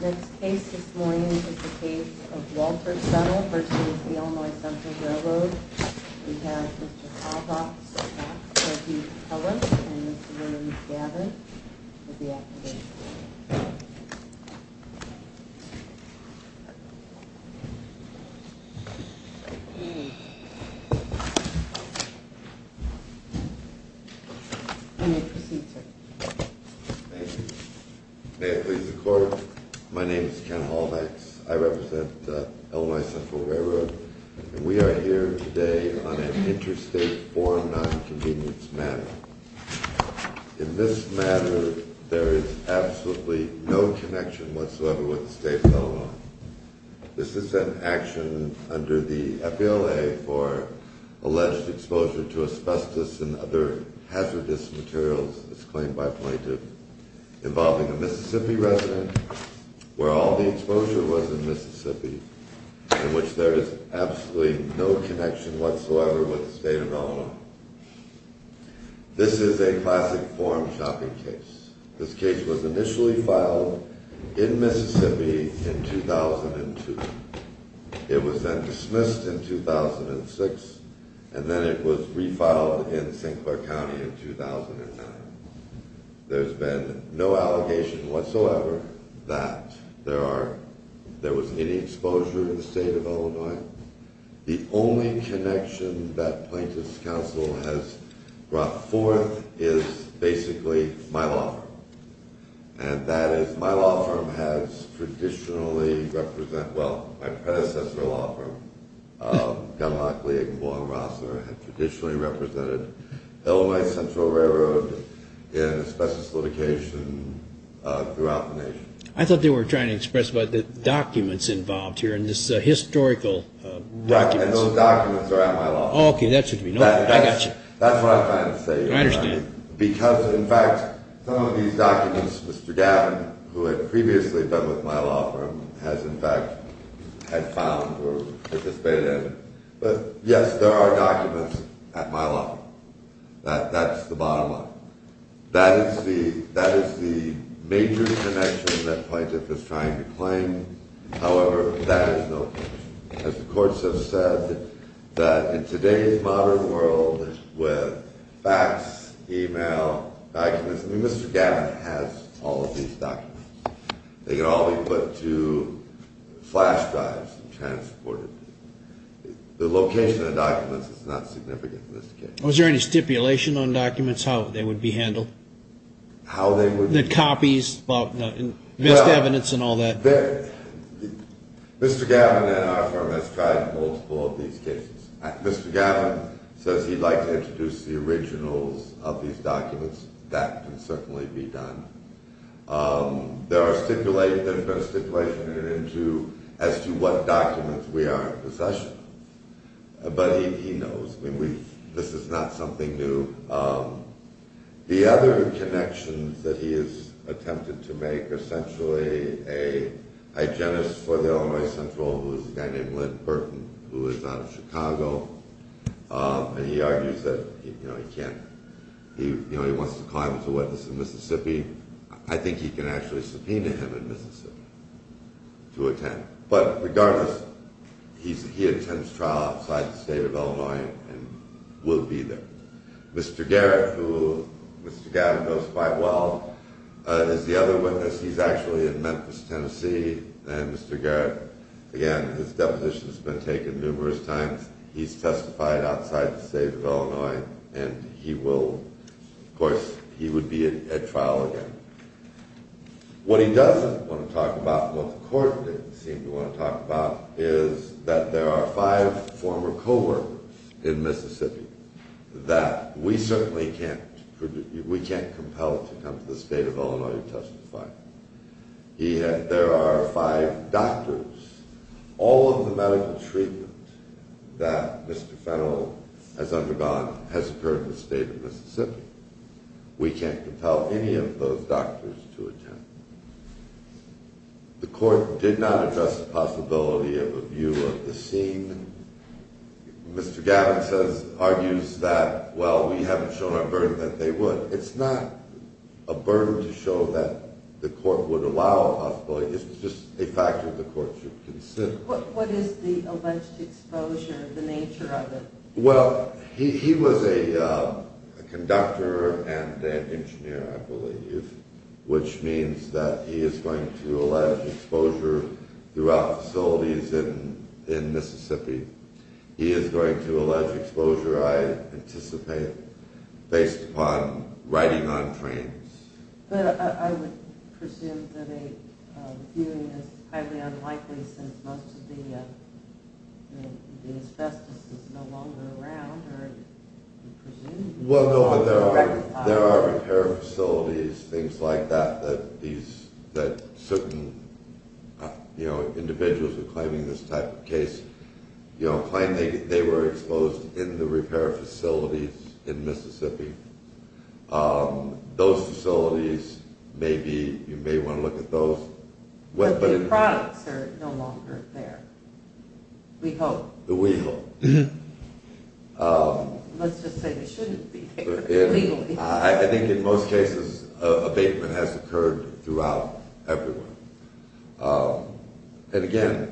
This case this morning is the case of Walter Settle v. Illinois Central Railroad. We have Mr. Kavach, Dr. Kelly, and Mr. Williams-Gabbard with the affidavits. You may proceed, sir. Thank you. May it please the Court, my name is Ken Holbein. I represent Illinois Central Railroad and we are here today on an interstate foreign non-convenience matter. In this matter, there is absolutely no connection whatsoever with the State of Illinois. This is an action under the FBLA for alleged exposure to asbestos and other hazardous materials, as claimed by plaintiff, involving a Mississippi resident, where all the exposure was in Mississippi, in which there is absolutely no connection whatsoever with the State of Illinois. This is a classic form shopping case. This case was initially filed in Mississippi in 2002. It was then dismissed in 2006, and then it was refiled in St. Clair County in 2009. There has been no allegation whatsoever that there was any exposure to the State of Illinois. The only connection that Plaintiff's Counsel has brought forth is basically my law firm. My law firm has traditionally represented Illinois Central Railroad in asbestos litigation throughout the nation. I thought they were trying to express the documents involved here in this historical document. And those documents are at my law firm. That's what I'm trying to say. I understand. These documents, Mr. Gavin, who had previously been with my law firm, has in fact found or participated in. But yes, there are documents at my law firm. That's the bottom line. That is the major connection that Plaintiff is trying to claim. However, that is no connection. As the courts have said, that in today's modern world with fax, e-mail, documents, I mean, Mr. Gavin has all of these documents. They can all be put to flash drives and transported. The location of the documents is not significant in this case. Was there any stipulation on documents, how they would be handled? How they would be handled? The copies, missed evidence and all that. Mr. Gavin and our firm has tried multiple of these cases. Mr. Gavin says he'd like to introduce the originals of these documents. That can certainly be done. There are stipulations as to what documents we are in possession of. But he knows. This is not something new. The other connections that he has attempted to make are essentially a hygienist for the Illinois Central, who is a guy named Len Burton, who is out of Chicago. And he argues that he wants to climb as a witness in Mississippi. I think he can actually subpoena him in Mississippi to attend. But regardless, he attends trial outside the state of Illinois and will be there. Mr. Garrett, who Mr. Gavin knows quite well, is the other witness. He's actually in Memphis, Tennessee. And Mr. Garrett, again, his deposition has been taken numerous times. He's testified outside the state of Illinois and he will, of course, he would be at trial again. What he doesn't want to talk about, but the court didn't seem to want to talk about, is that there are five former co-workers in Mississippi. That we certainly can't compel to come to the state of Illinois to testify. There are five doctors. All of the medical treatment that Mr. Fennell has undergone has occurred in the state of Mississippi. We can't compel any of those doctors to attend. The court did not address the possibility of a view of the scene. Mr. Garrett argues that, well, we haven't shown our burden that they would. It's not a burden to show that the court would allow a possibility. It's just a factor the court should consider. What is the alleged exposure, the nature of it? Well, he was a conductor and an engineer, I believe, which means that he is going to allege exposure throughout facilities in Mississippi. He is going to allege exposure, I anticipate, based upon riding on trains. But I would presume that a viewing is highly unlikely since most of the asbestos is no longer around. Well, no, there are repair facilities, things like that, that certain individuals who are claiming this type of case claim they were exposed in the repair facilities in Mississippi. Those facilities may be, you may want to look at those. But the products are no longer there, we hope. We hope. Let's just say they shouldn't be legally. I think in most cases abatement has occurred throughout everyone. And again,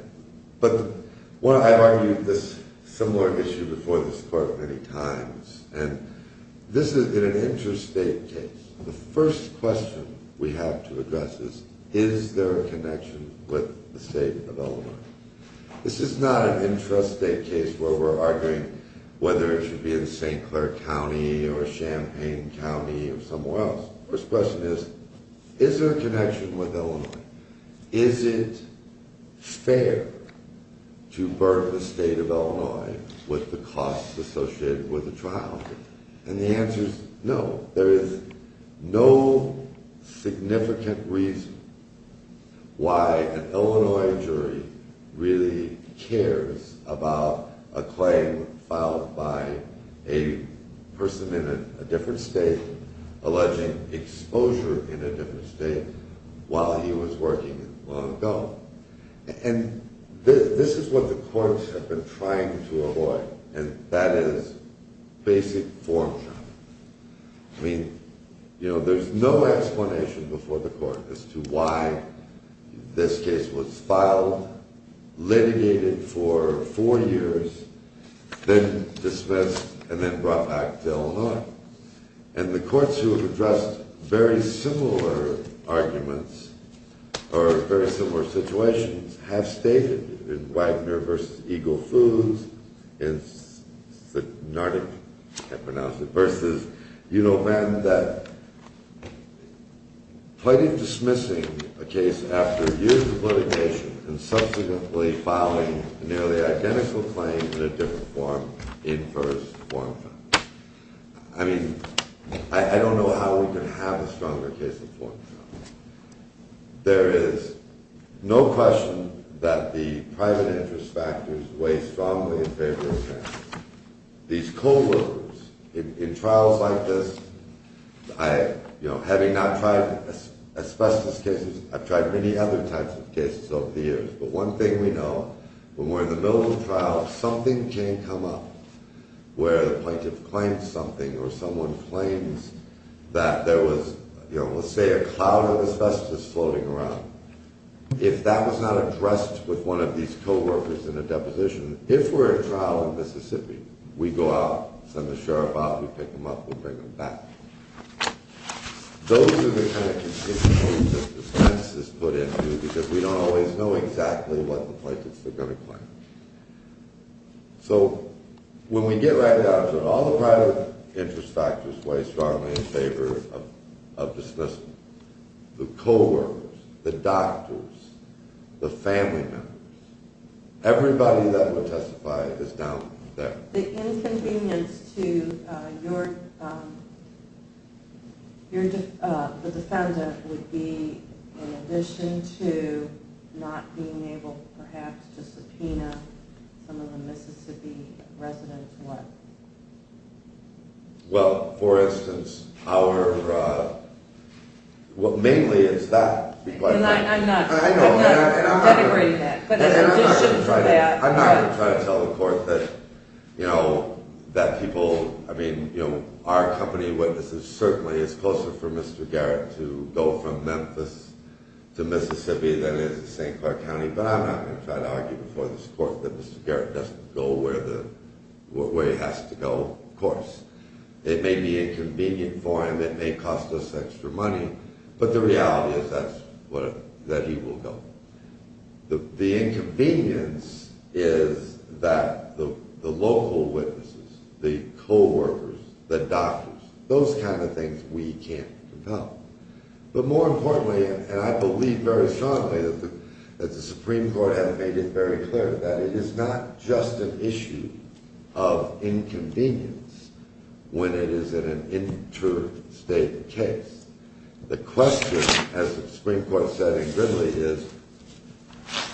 I've argued this similar issue before this court many times, and this is an intrastate case. The first question we have to address is, is there a connection with the state of Illinois? This is not an intrastate case where we're arguing whether it should be in St. Clair County or Champaign County or somewhere else. First question is, is there a connection with Illinois? Is it fair to burden the state of Illinois with the costs associated with the trial? And the answer is no. There is no significant reason why an Illinois jury really cares about a claim filed by a person in a different state, alleging exposure in a different state, while he was working long ago. And this is what the courts have been trying to avoid, and that is basic form trafficking. I mean, there's no explanation before the court as to why this case was filed, litigated for four years, then dismissed, and then brought back to Illinois. And the courts who have addressed very similar arguments, or very similar situations, have stated in Wagner v. Eagle Foods, in the Nardic, I can't pronounce it, versus Univand, that plighting dismissing a case after years of litigation, and subsequently filing nearly identical claims in a different form, infers form trafficking. I mean, I don't know how we could have a stronger case of form trafficking. There is no question that the private interest factors weigh strongly in favor of fairness. These co-workers, in trials like this, having not tried asbestos cases, I've tried many other types of cases over the years, but one thing we know, when we're in the middle of a trial, something can come up where the plaintiff claims something, or someone claims that there was, let's say, a cloud of asbestos floating around. If that was not addressed with one of these co-workers in a deposition, if we're at trial in Mississippi, we go out, send the sheriff out, we pick them up, we bring them back. Those are the kinds of situations that the defense is put into, because we don't always know exactly what the plaintiffs are going to claim. So, when we get right down to it, all the private interest factors weigh strongly in favor of dismissal. The co-workers, the doctors, the family members, everybody that would testify is down there. So, the inconvenience to the defendant would be, in addition to not being able, perhaps, to subpoena some of the Mississippi residents, what? Well, for instance, our... well, mainly it's that. I'm not going to try to tell the court that, you know, that people, I mean, you know, our company witnesses, certainly it's closer for Mr. Garrett to go from Memphis to Mississippi than it is to St. Clair County, but I'm not going to try to argue before this court that Mr. Garrett doesn't go where he has to go, of course. It may be inconvenient for him, it may cost us extra money, but the reality is that he will go. The inconvenience is that the local witnesses, the co-workers, the doctors, those kind of things we can't compel. But more importantly, and I believe very strongly that the Supreme Court has made it very clear that it is not just an issue of inconvenience when it is an interstate case. The question, as the Supreme Court said in Gridley, is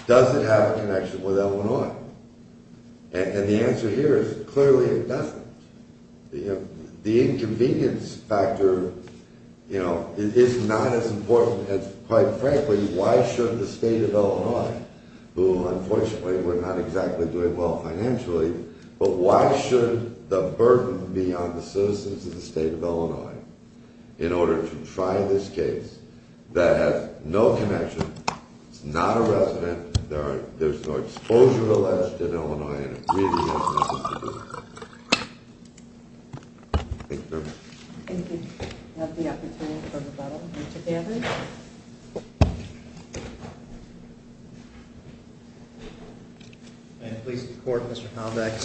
does it have a connection with Illinois? And the answer here is clearly it doesn't. The inconvenience factor, you know, is not as important as, quite frankly, why should the state of Illinois, who unfortunately we're not exactly doing well financially, but why should the burden be on the citizens of the state of Illinois in order to try this case that has no connection, it's not a resident, there's no exposure alleged in Illinois, and it really has nothing to do with it. Thank you very much. Thank you. We have the opportunity for rebuttal. Mr. Gannon? I am pleased to report, Mr. Haldex,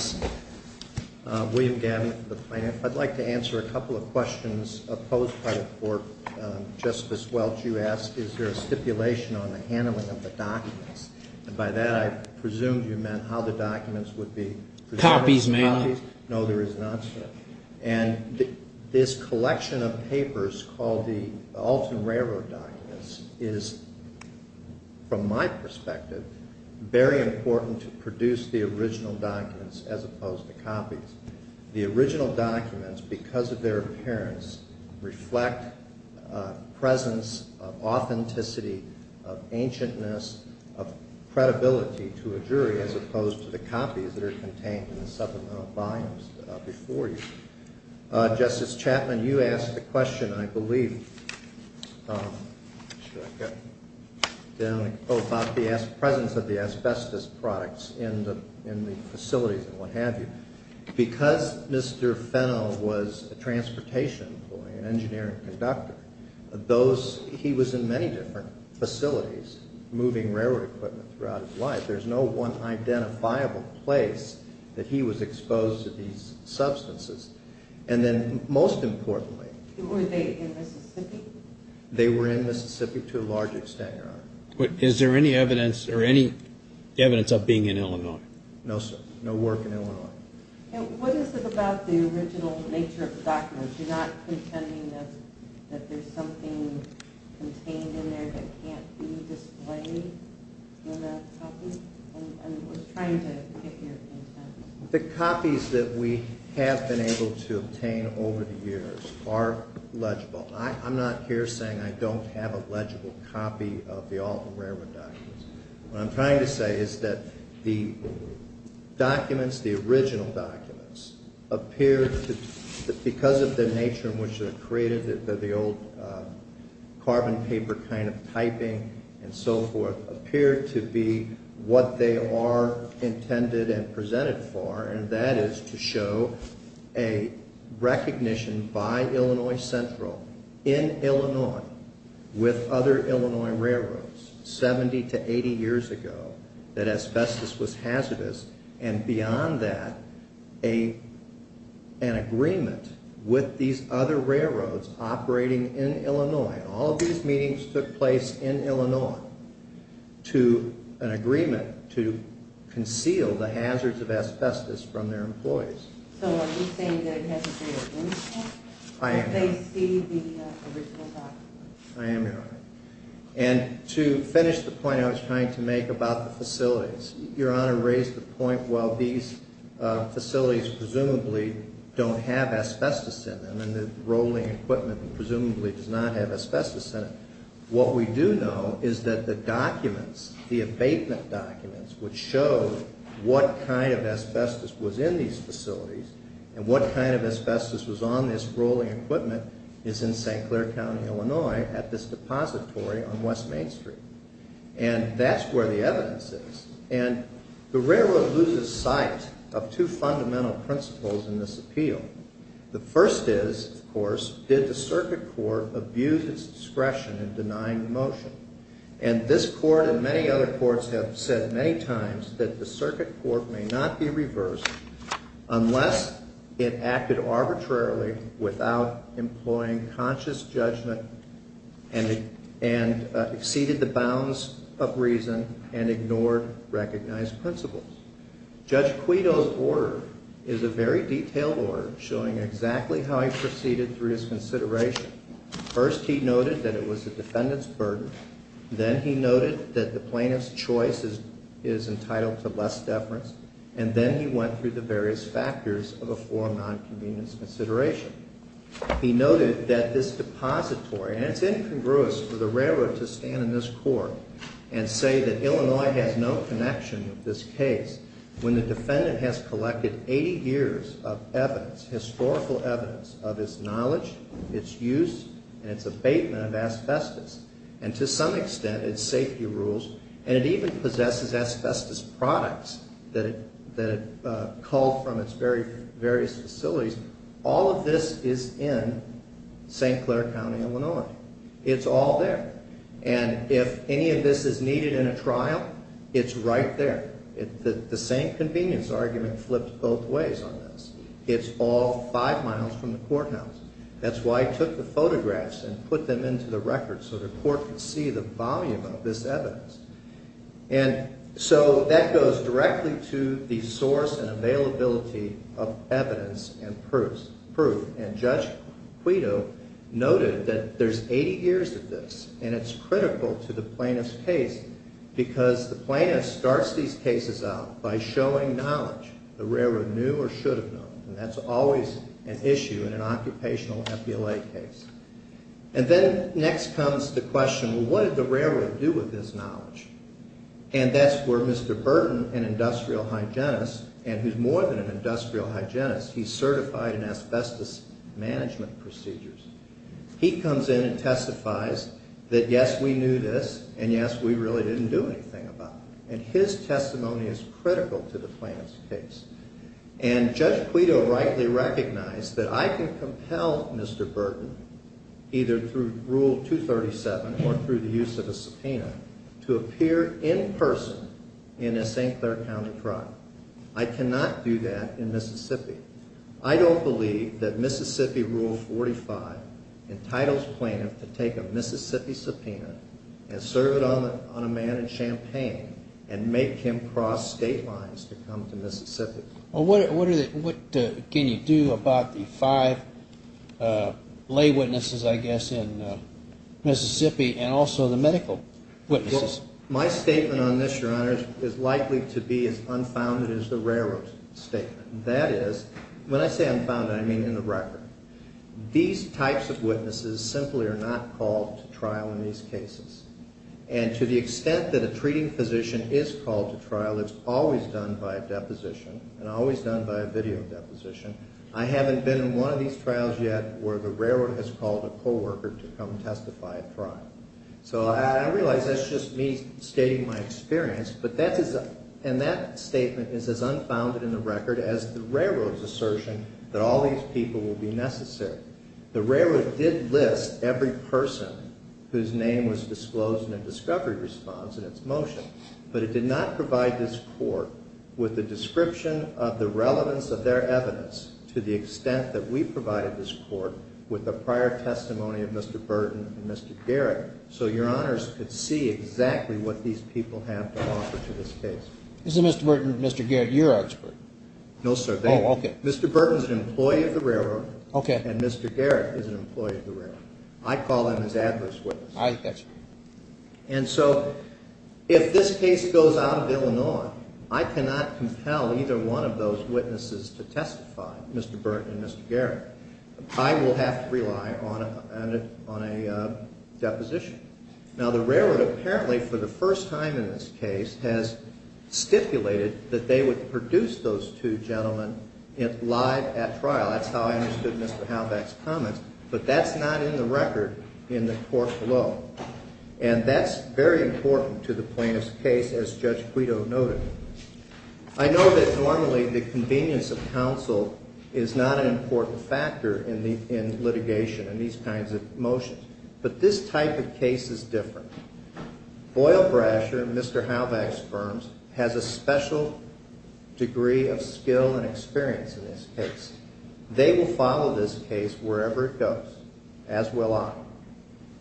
William Gannon for the plaintiff. I'd like to answer a couple of questions posed by the court. Justice Welch, you asked, is there a stipulation on the handling of the documents? And by that I presumed you meant how the documents would be preserved. Copies, mainly. No, there is not. And this collection of papers called the Alton Railroad documents is, from my perspective, very important to produce the original documents as opposed to copies. The original documents, because of their appearance, reflect a presence of authenticity, of ancientness, of credibility to a jury as opposed to the copies that are contained in the supplemental volumes before you. Justice Chapman, you asked the question, I believe, about the presence of the asbestos products in the facilities and what have you. Because Mr. Fennell was a transportation employee, an engineer and conductor, he was in many different facilities moving railroad equipment throughout his life. There's no one identifiable place that he was exposed to these substances. And then, most importantly... Were they in Mississippi? They were in Mississippi to a large extent, Your Honor. Is there any evidence of being in Illinois? No, sir. No work in Illinois. What is it about the original nature of the documents? You're not contending that there's something contained in there that can't be displayed in a copy? I was trying to get your intent. The copies that we have been able to obtain over the years are legible. I'm not here saying I don't have a legible copy of the Alton Railroad documents. What I'm trying to say is that the documents, the original documents, appear to, because of the nature in which they're created, the old carbon paper kind of typing and so forth, appear to be what they are intended and presented for, and that is to show a recognition by Illinois Central, in Illinois, with other Illinois railroads, 70 to 80 years ago, that asbestos was hazardous, and beyond that, an agreement with these other railroads operating in Illinois, all of these meetings took place in Illinois, to an agreement to conceal the hazards of asbestos from their employees. So are you saying that it hasn't been identified? I am, Your Honor. They see the original documents? I am, Your Honor. And to finish the point I was trying to make about the facilities, Your Honor raised the point, well, these facilities presumably don't have asbestos in them, and the rolling equipment presumably does not have asbestos in it. What we do know is that the documents, the abatement documents, which show what kind of asbestos was in these facilities, and what kind of asbestos was on this rolling equipment, is in St. Clair County, Illinois, at this depository on West Main Street. And that's where the evidence is. And the railroad loses sight of two fundamental principles in this appeal. The first is, of course, did the circuit court abuse its discretion in denying the motion? And this court and many other courts have said many times that the circuit court may not be reversed unless it acted arbitrarily without employing conscious judgment and exceeded the bounds of reason and ignored recognized principles. Judge Quito's order is a very detailed order showing exactly how he proceeded through his consideration. First, he noted that it was the defendant's burden. Then he noted that the plaintiff's choice is entitled to less deference. And then he went through the various factors of a forum non-convenience consideration. He noted that this depository, and it's incongruous for the railroad to stand in this court and say that Illinois has no connection with this case when the defendant has collected 80 years of evidence, historical evidence of its knowledge, its use, and its abatement of asbestos. And to some extent, its safety rules, and it even possesses asbestos products that it culled from its various facilities. All of this is in St. Clair County, Illinois. It's all there. And if any of this is needed in a trial, it's right there. The same convenience argument flips both ways on this. It's all five miles from the courthouse. That's why he took the photographs and put them into the record so the court could see the volume of this evidence. And so that goes directly to the source and availability of evidence and proof. And Judge Quito noted that there's 80 years of this, and it's critical to the plaintiff's case because the plaintiff starts these cases out by showing knowledge. The railroad knew or should have known, and that's always an issue in an occupational MPLA case. And then next comes the question, well, what did the railroad do with this knowledge? And that's where Mr. Burton, an industrial hygienist, and who's more than an industrial hygienist, he's certified in asbestos management procedures. He comes in and testifies that yes, we knew this, and yes, we really didn't do anything about it. And his testimony is critical to the plaintiff's case. And Judge Quito rightly recognized that I can compel Mr. Burton, either through Rule 237 or through the use of a subpoena, to appear in person in a St. Clair County trial. I cannot do that in Mississippi. I don't believe that Mississippi Rule 45 entitles plaintiff to take a Mississippi subpoena and serve it on a man in Champaign and make him cross state lines to come to Mississippi. Well, what can you do about the five lay witnesses, I guess, in Mississippi and also the medical witnesses? Well, my statement on this, Your Honor, is likely to be as unfounded as the railroad's statement. That is, when I say unfounded, I mean in the record. These types of witnesses simply are not called to trial in these cases. And to the extent that a treating physician is called to trial, it's always done by a deposition and always done by a video deposition. I haven't been in one of these trials yet where the railroad has called a co-worker to come testify at trial. So I realize that's just me stating my experience, and that statement is as unfounded in the record as the railroad's assertion that all these people will be necessary. The railroad did list every person whose name was disclosed in a discovery response in its motion, but it did not provide this Court with a description of the relevance of their evidence to the extent that we provided this Court with the prior testimony of Mr. Burton and Mr. Garrett so Your Honors could see exactly what these people have to offer to this case. So Mr. Burton and Mr. Garrett, you're our expert? No, sir. Mr. Burton is an employee of the railroad, and Mr. Garrett is an employee of the railroad. I call them as adverse witnesses. And so if this case goes out of Illinois, I cannot compel either one of those witnesses to testify, Mr. Burton and Mr. Garrett. I will have to rely on a deposition. Now, the railroad apparently, for the first time in this case, has stipulated that they would produce those two gentlemen live at trial. That's how I understood Mr. Halbach's comments, but that's not in the record in the court below. And that's very important to the plaintiff's case, as Judge Guido noted. I know that normally the convenience of counsel is not an important factor in litigation in these kinds of motions. But this type of case is different. Boyle Brasher, Mr. Halbach's firm, has a special degree of skill and experience in this case. They will follow this case wherever it goes, as will I.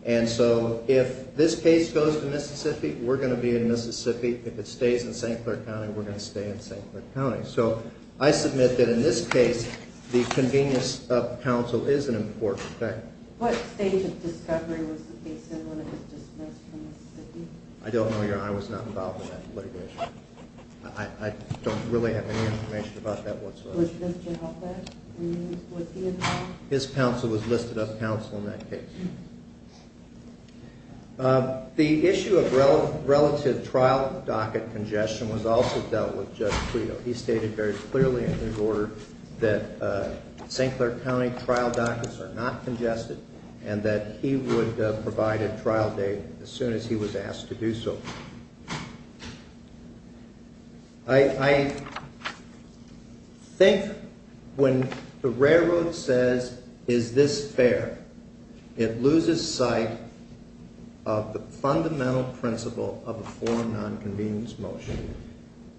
And so if this case goes to Mississippi, we're going to be in Mississippi. If it stays in St. Clair County, we're going to stay in St. Clair County. So I submit that in this case, the convenience of counsel is an important factor. What stage of discovery was the case in when it was dismissed from Mississippi? I don't know. Your honor, I was not involved in that litigation. I don't really have any information about that whatsoever. Was Mr. Halbach involved? His counsel was listed up counsel in that case. The issue of relative trial docket congestion was also dealt with Judge Guido. He stated very clearly in his order that St. Clair County trial dockets are not congested and that he would provide a trial date as soon as he was asked to do so. I think when the railroad says, is this fair? It loses sight of the fundamental principle of a foreign non-convenience motion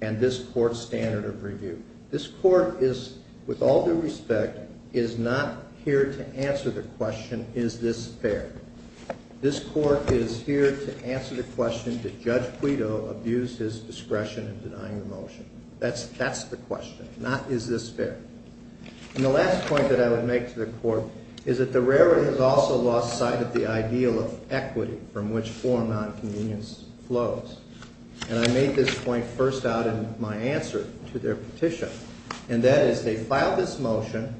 and this court's standard of review. This court is, with all due respect, is not here to answer the question, is this fair? This court is here to answer the question, did Judge Guido abuse his discretion in denying the motion? That's the question, not is this fair? And the last point that I would make to the court is that the railroad has also lost sight of the ideal of equity from which foreign non-convenience flows. And I made this point first out in my answer to their petition. And that is they filed this motion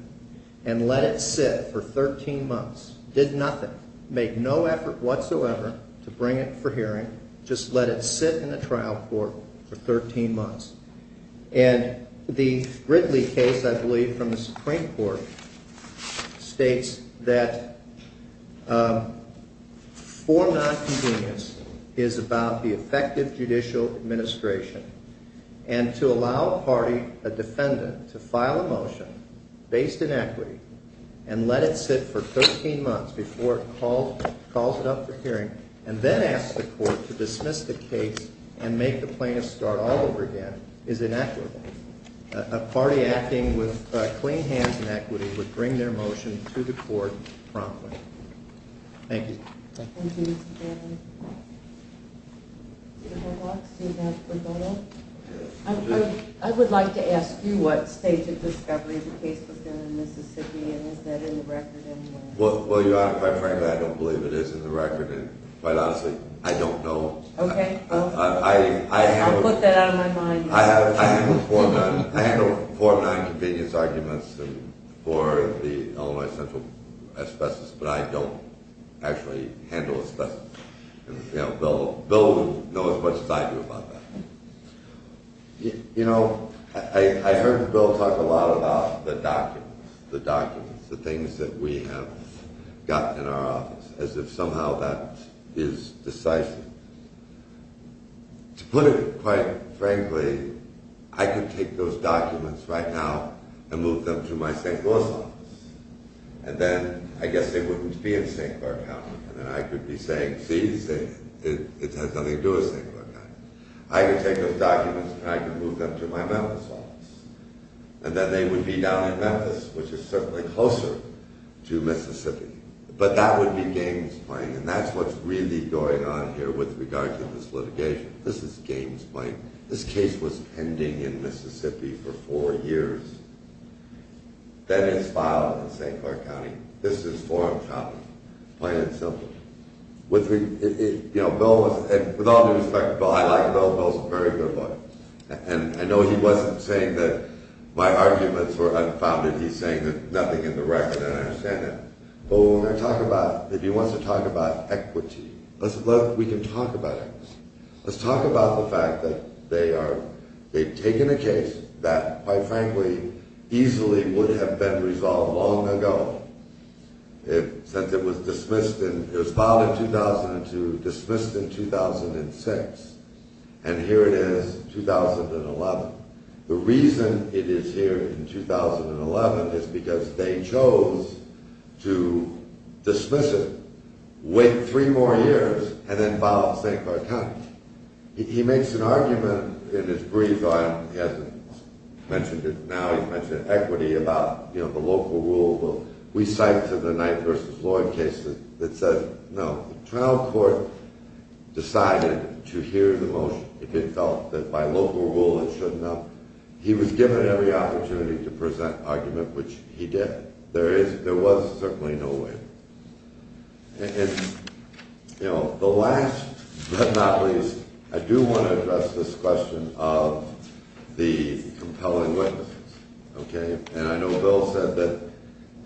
and let it sit for 13 months. Did nothing. Made no effort whatsoever to bring it for hearing. Just let it sit in the trial court for 13 months. And the Ridley case, I believe, from the Supreme Court states that foreign non-convenience is about the effective judicial administration. And to allow a party, a defendant, to file a motion based in equity and let it sit for 13 months before it calls it up for hearing and then ask the court to dismiss the case and make the plaintiff start all over again is inequitable. A party acting with clean hands in equity would bring their motion to the court promptly. Thank you. Thank you, Mr. Chairman. Do you have one more? I would like to ask you what stage of discovery the case was in in Mississippi. And is that in the record anywhere? Well, Your Honor, quite frankly, I don't believe it is in the record. And quite honestly, I don't know. Okay. I'll put that out of my mind. I handle four non-convenience arguments for the Illinois Central asbestos, but I don't actually handle asbestos. And Bill knows as much as I do about that. You know, I heard Bill talk a lot about the documents, the documents, the things that we have got in our office, as if somehow that is decisive. To put it quite frankly, I could take those documents right now and move them to my St. Louis office. And then I guess they wouldn't be in St. Clair County. And then I could be saying, see, it has nothing to do with St. Clair County. I could take those documents and I could move them to my Memphis office. And then they would be down in Memphis, which is certainly closer to Mississippi. But that would be games playing. And that's what's really going on here with regard to this litigation. This is games playing. This case was pending in Mississippi for four years. Then it's filed in St. Clair County. This is forum shopping. Plain and simple. With all due respect, Bill, I like Bill. Bill's a very good lawyer. And I know he wasn't saying that my arguments were unfounded. He's saying there's nothing in the record, and I understand that. But if he wants to talk about equity, we can talk about it. Let's talk about the fact that they've taken a case that, quite frankly, easily would have been resolved long ago. Since it was dismissed, it was filed in 2002, dismissed in 2006. And here it is, 2011. The reason it is here in 2011 is because they chose to dismiss it, wait three more years, and then file it in St. Clair County. He makes an argument in his brief, he hasn't mentioned it now, he's mentioned equity about the local rule. We cite to the Knight v. Lloyd case that said no. The trial court decided to hear the motion. It felt that by local rule it shouldn't have. He was given every opportunity to present an argument, which he did. There was certainly no way. And, you know, the last but not least, I do want to address this question of the compelling witnesses. And I know Bill said that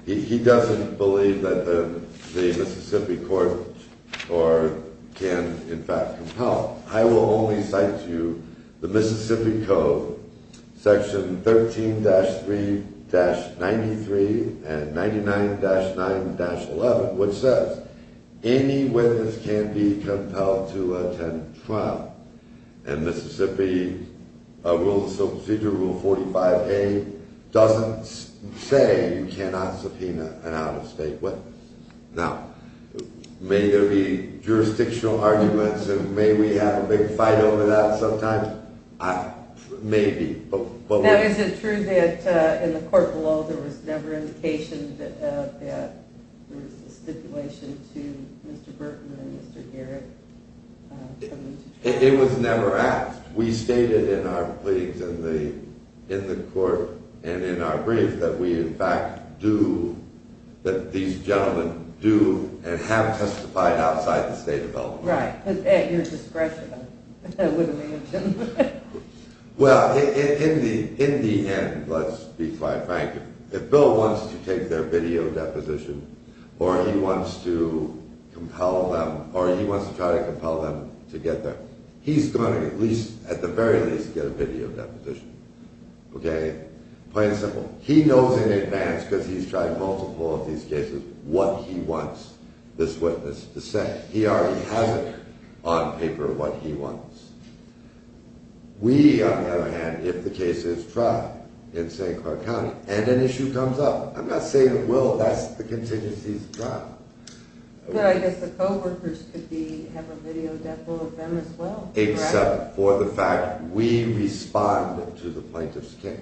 he doesn't believe that the Mississippi court can, in fact, compel. I will only cite to you the Mississippi Code, Section 13-3-93 and 99-9-11, which says any witness can be compelled to attend trial. And Mississippi Rules of Procedure, Rule 45A, doesn't say you cannot subpoena an out-of-state witness. Now, may there be jurisdictional arguments, and may we have a big fight over that sometimes? Maybe. Is it true that in the court below there was never indication that there was a stipulation to Mr. Burton and Mr. Garrett? It was never asked. We stated in our pleadings in the court and in our brief that we, in fact, do, that these gentlemen do and have testified outside the state of Alabama. Right, at your discretion, I would imagine. Well, in the end, let's be quite frank, if Bill wants to take their video deposition or he wants to try to compel them to get there, he's going to, at the very least, get a video deposition. Okay? Plain and simple. He knows in advance, because he's tried multiple of these cases, what he wants this witness to say. He already has it on paper, what he wants. We, on the other hand, if the case is tried in St. Clair County and an issue comes up, I'm not saying it will, that's the contingency's trial. Well, I guess the co-workers could be, have a video depo of them as well. Except for the fact we respond to the plaintiff's case.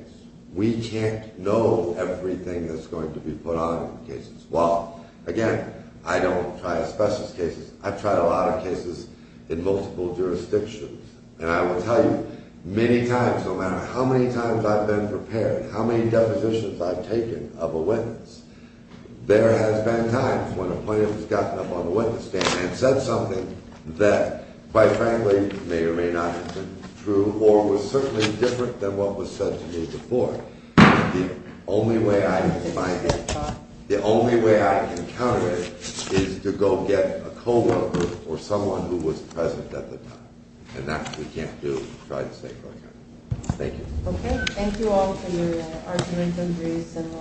We can't know everything that's going to be put on in the case as well. Again, I don't try specialist cases. I've tried a lot of cases in multiple jurisdictions. And I will tell you, many times, no matter how many times I've been prepared, how many depositions I've taken of a witness, there has been times when a plaintiff has gotten up on the witness stand and said something that, quite frankly, may or may not have been true or was certainly different than what was said to me before. The only way I can find it, the only way I can counter it is to go get a co-worker or someone who was present at the time. And that we can't do in St. Clair County. Thank you.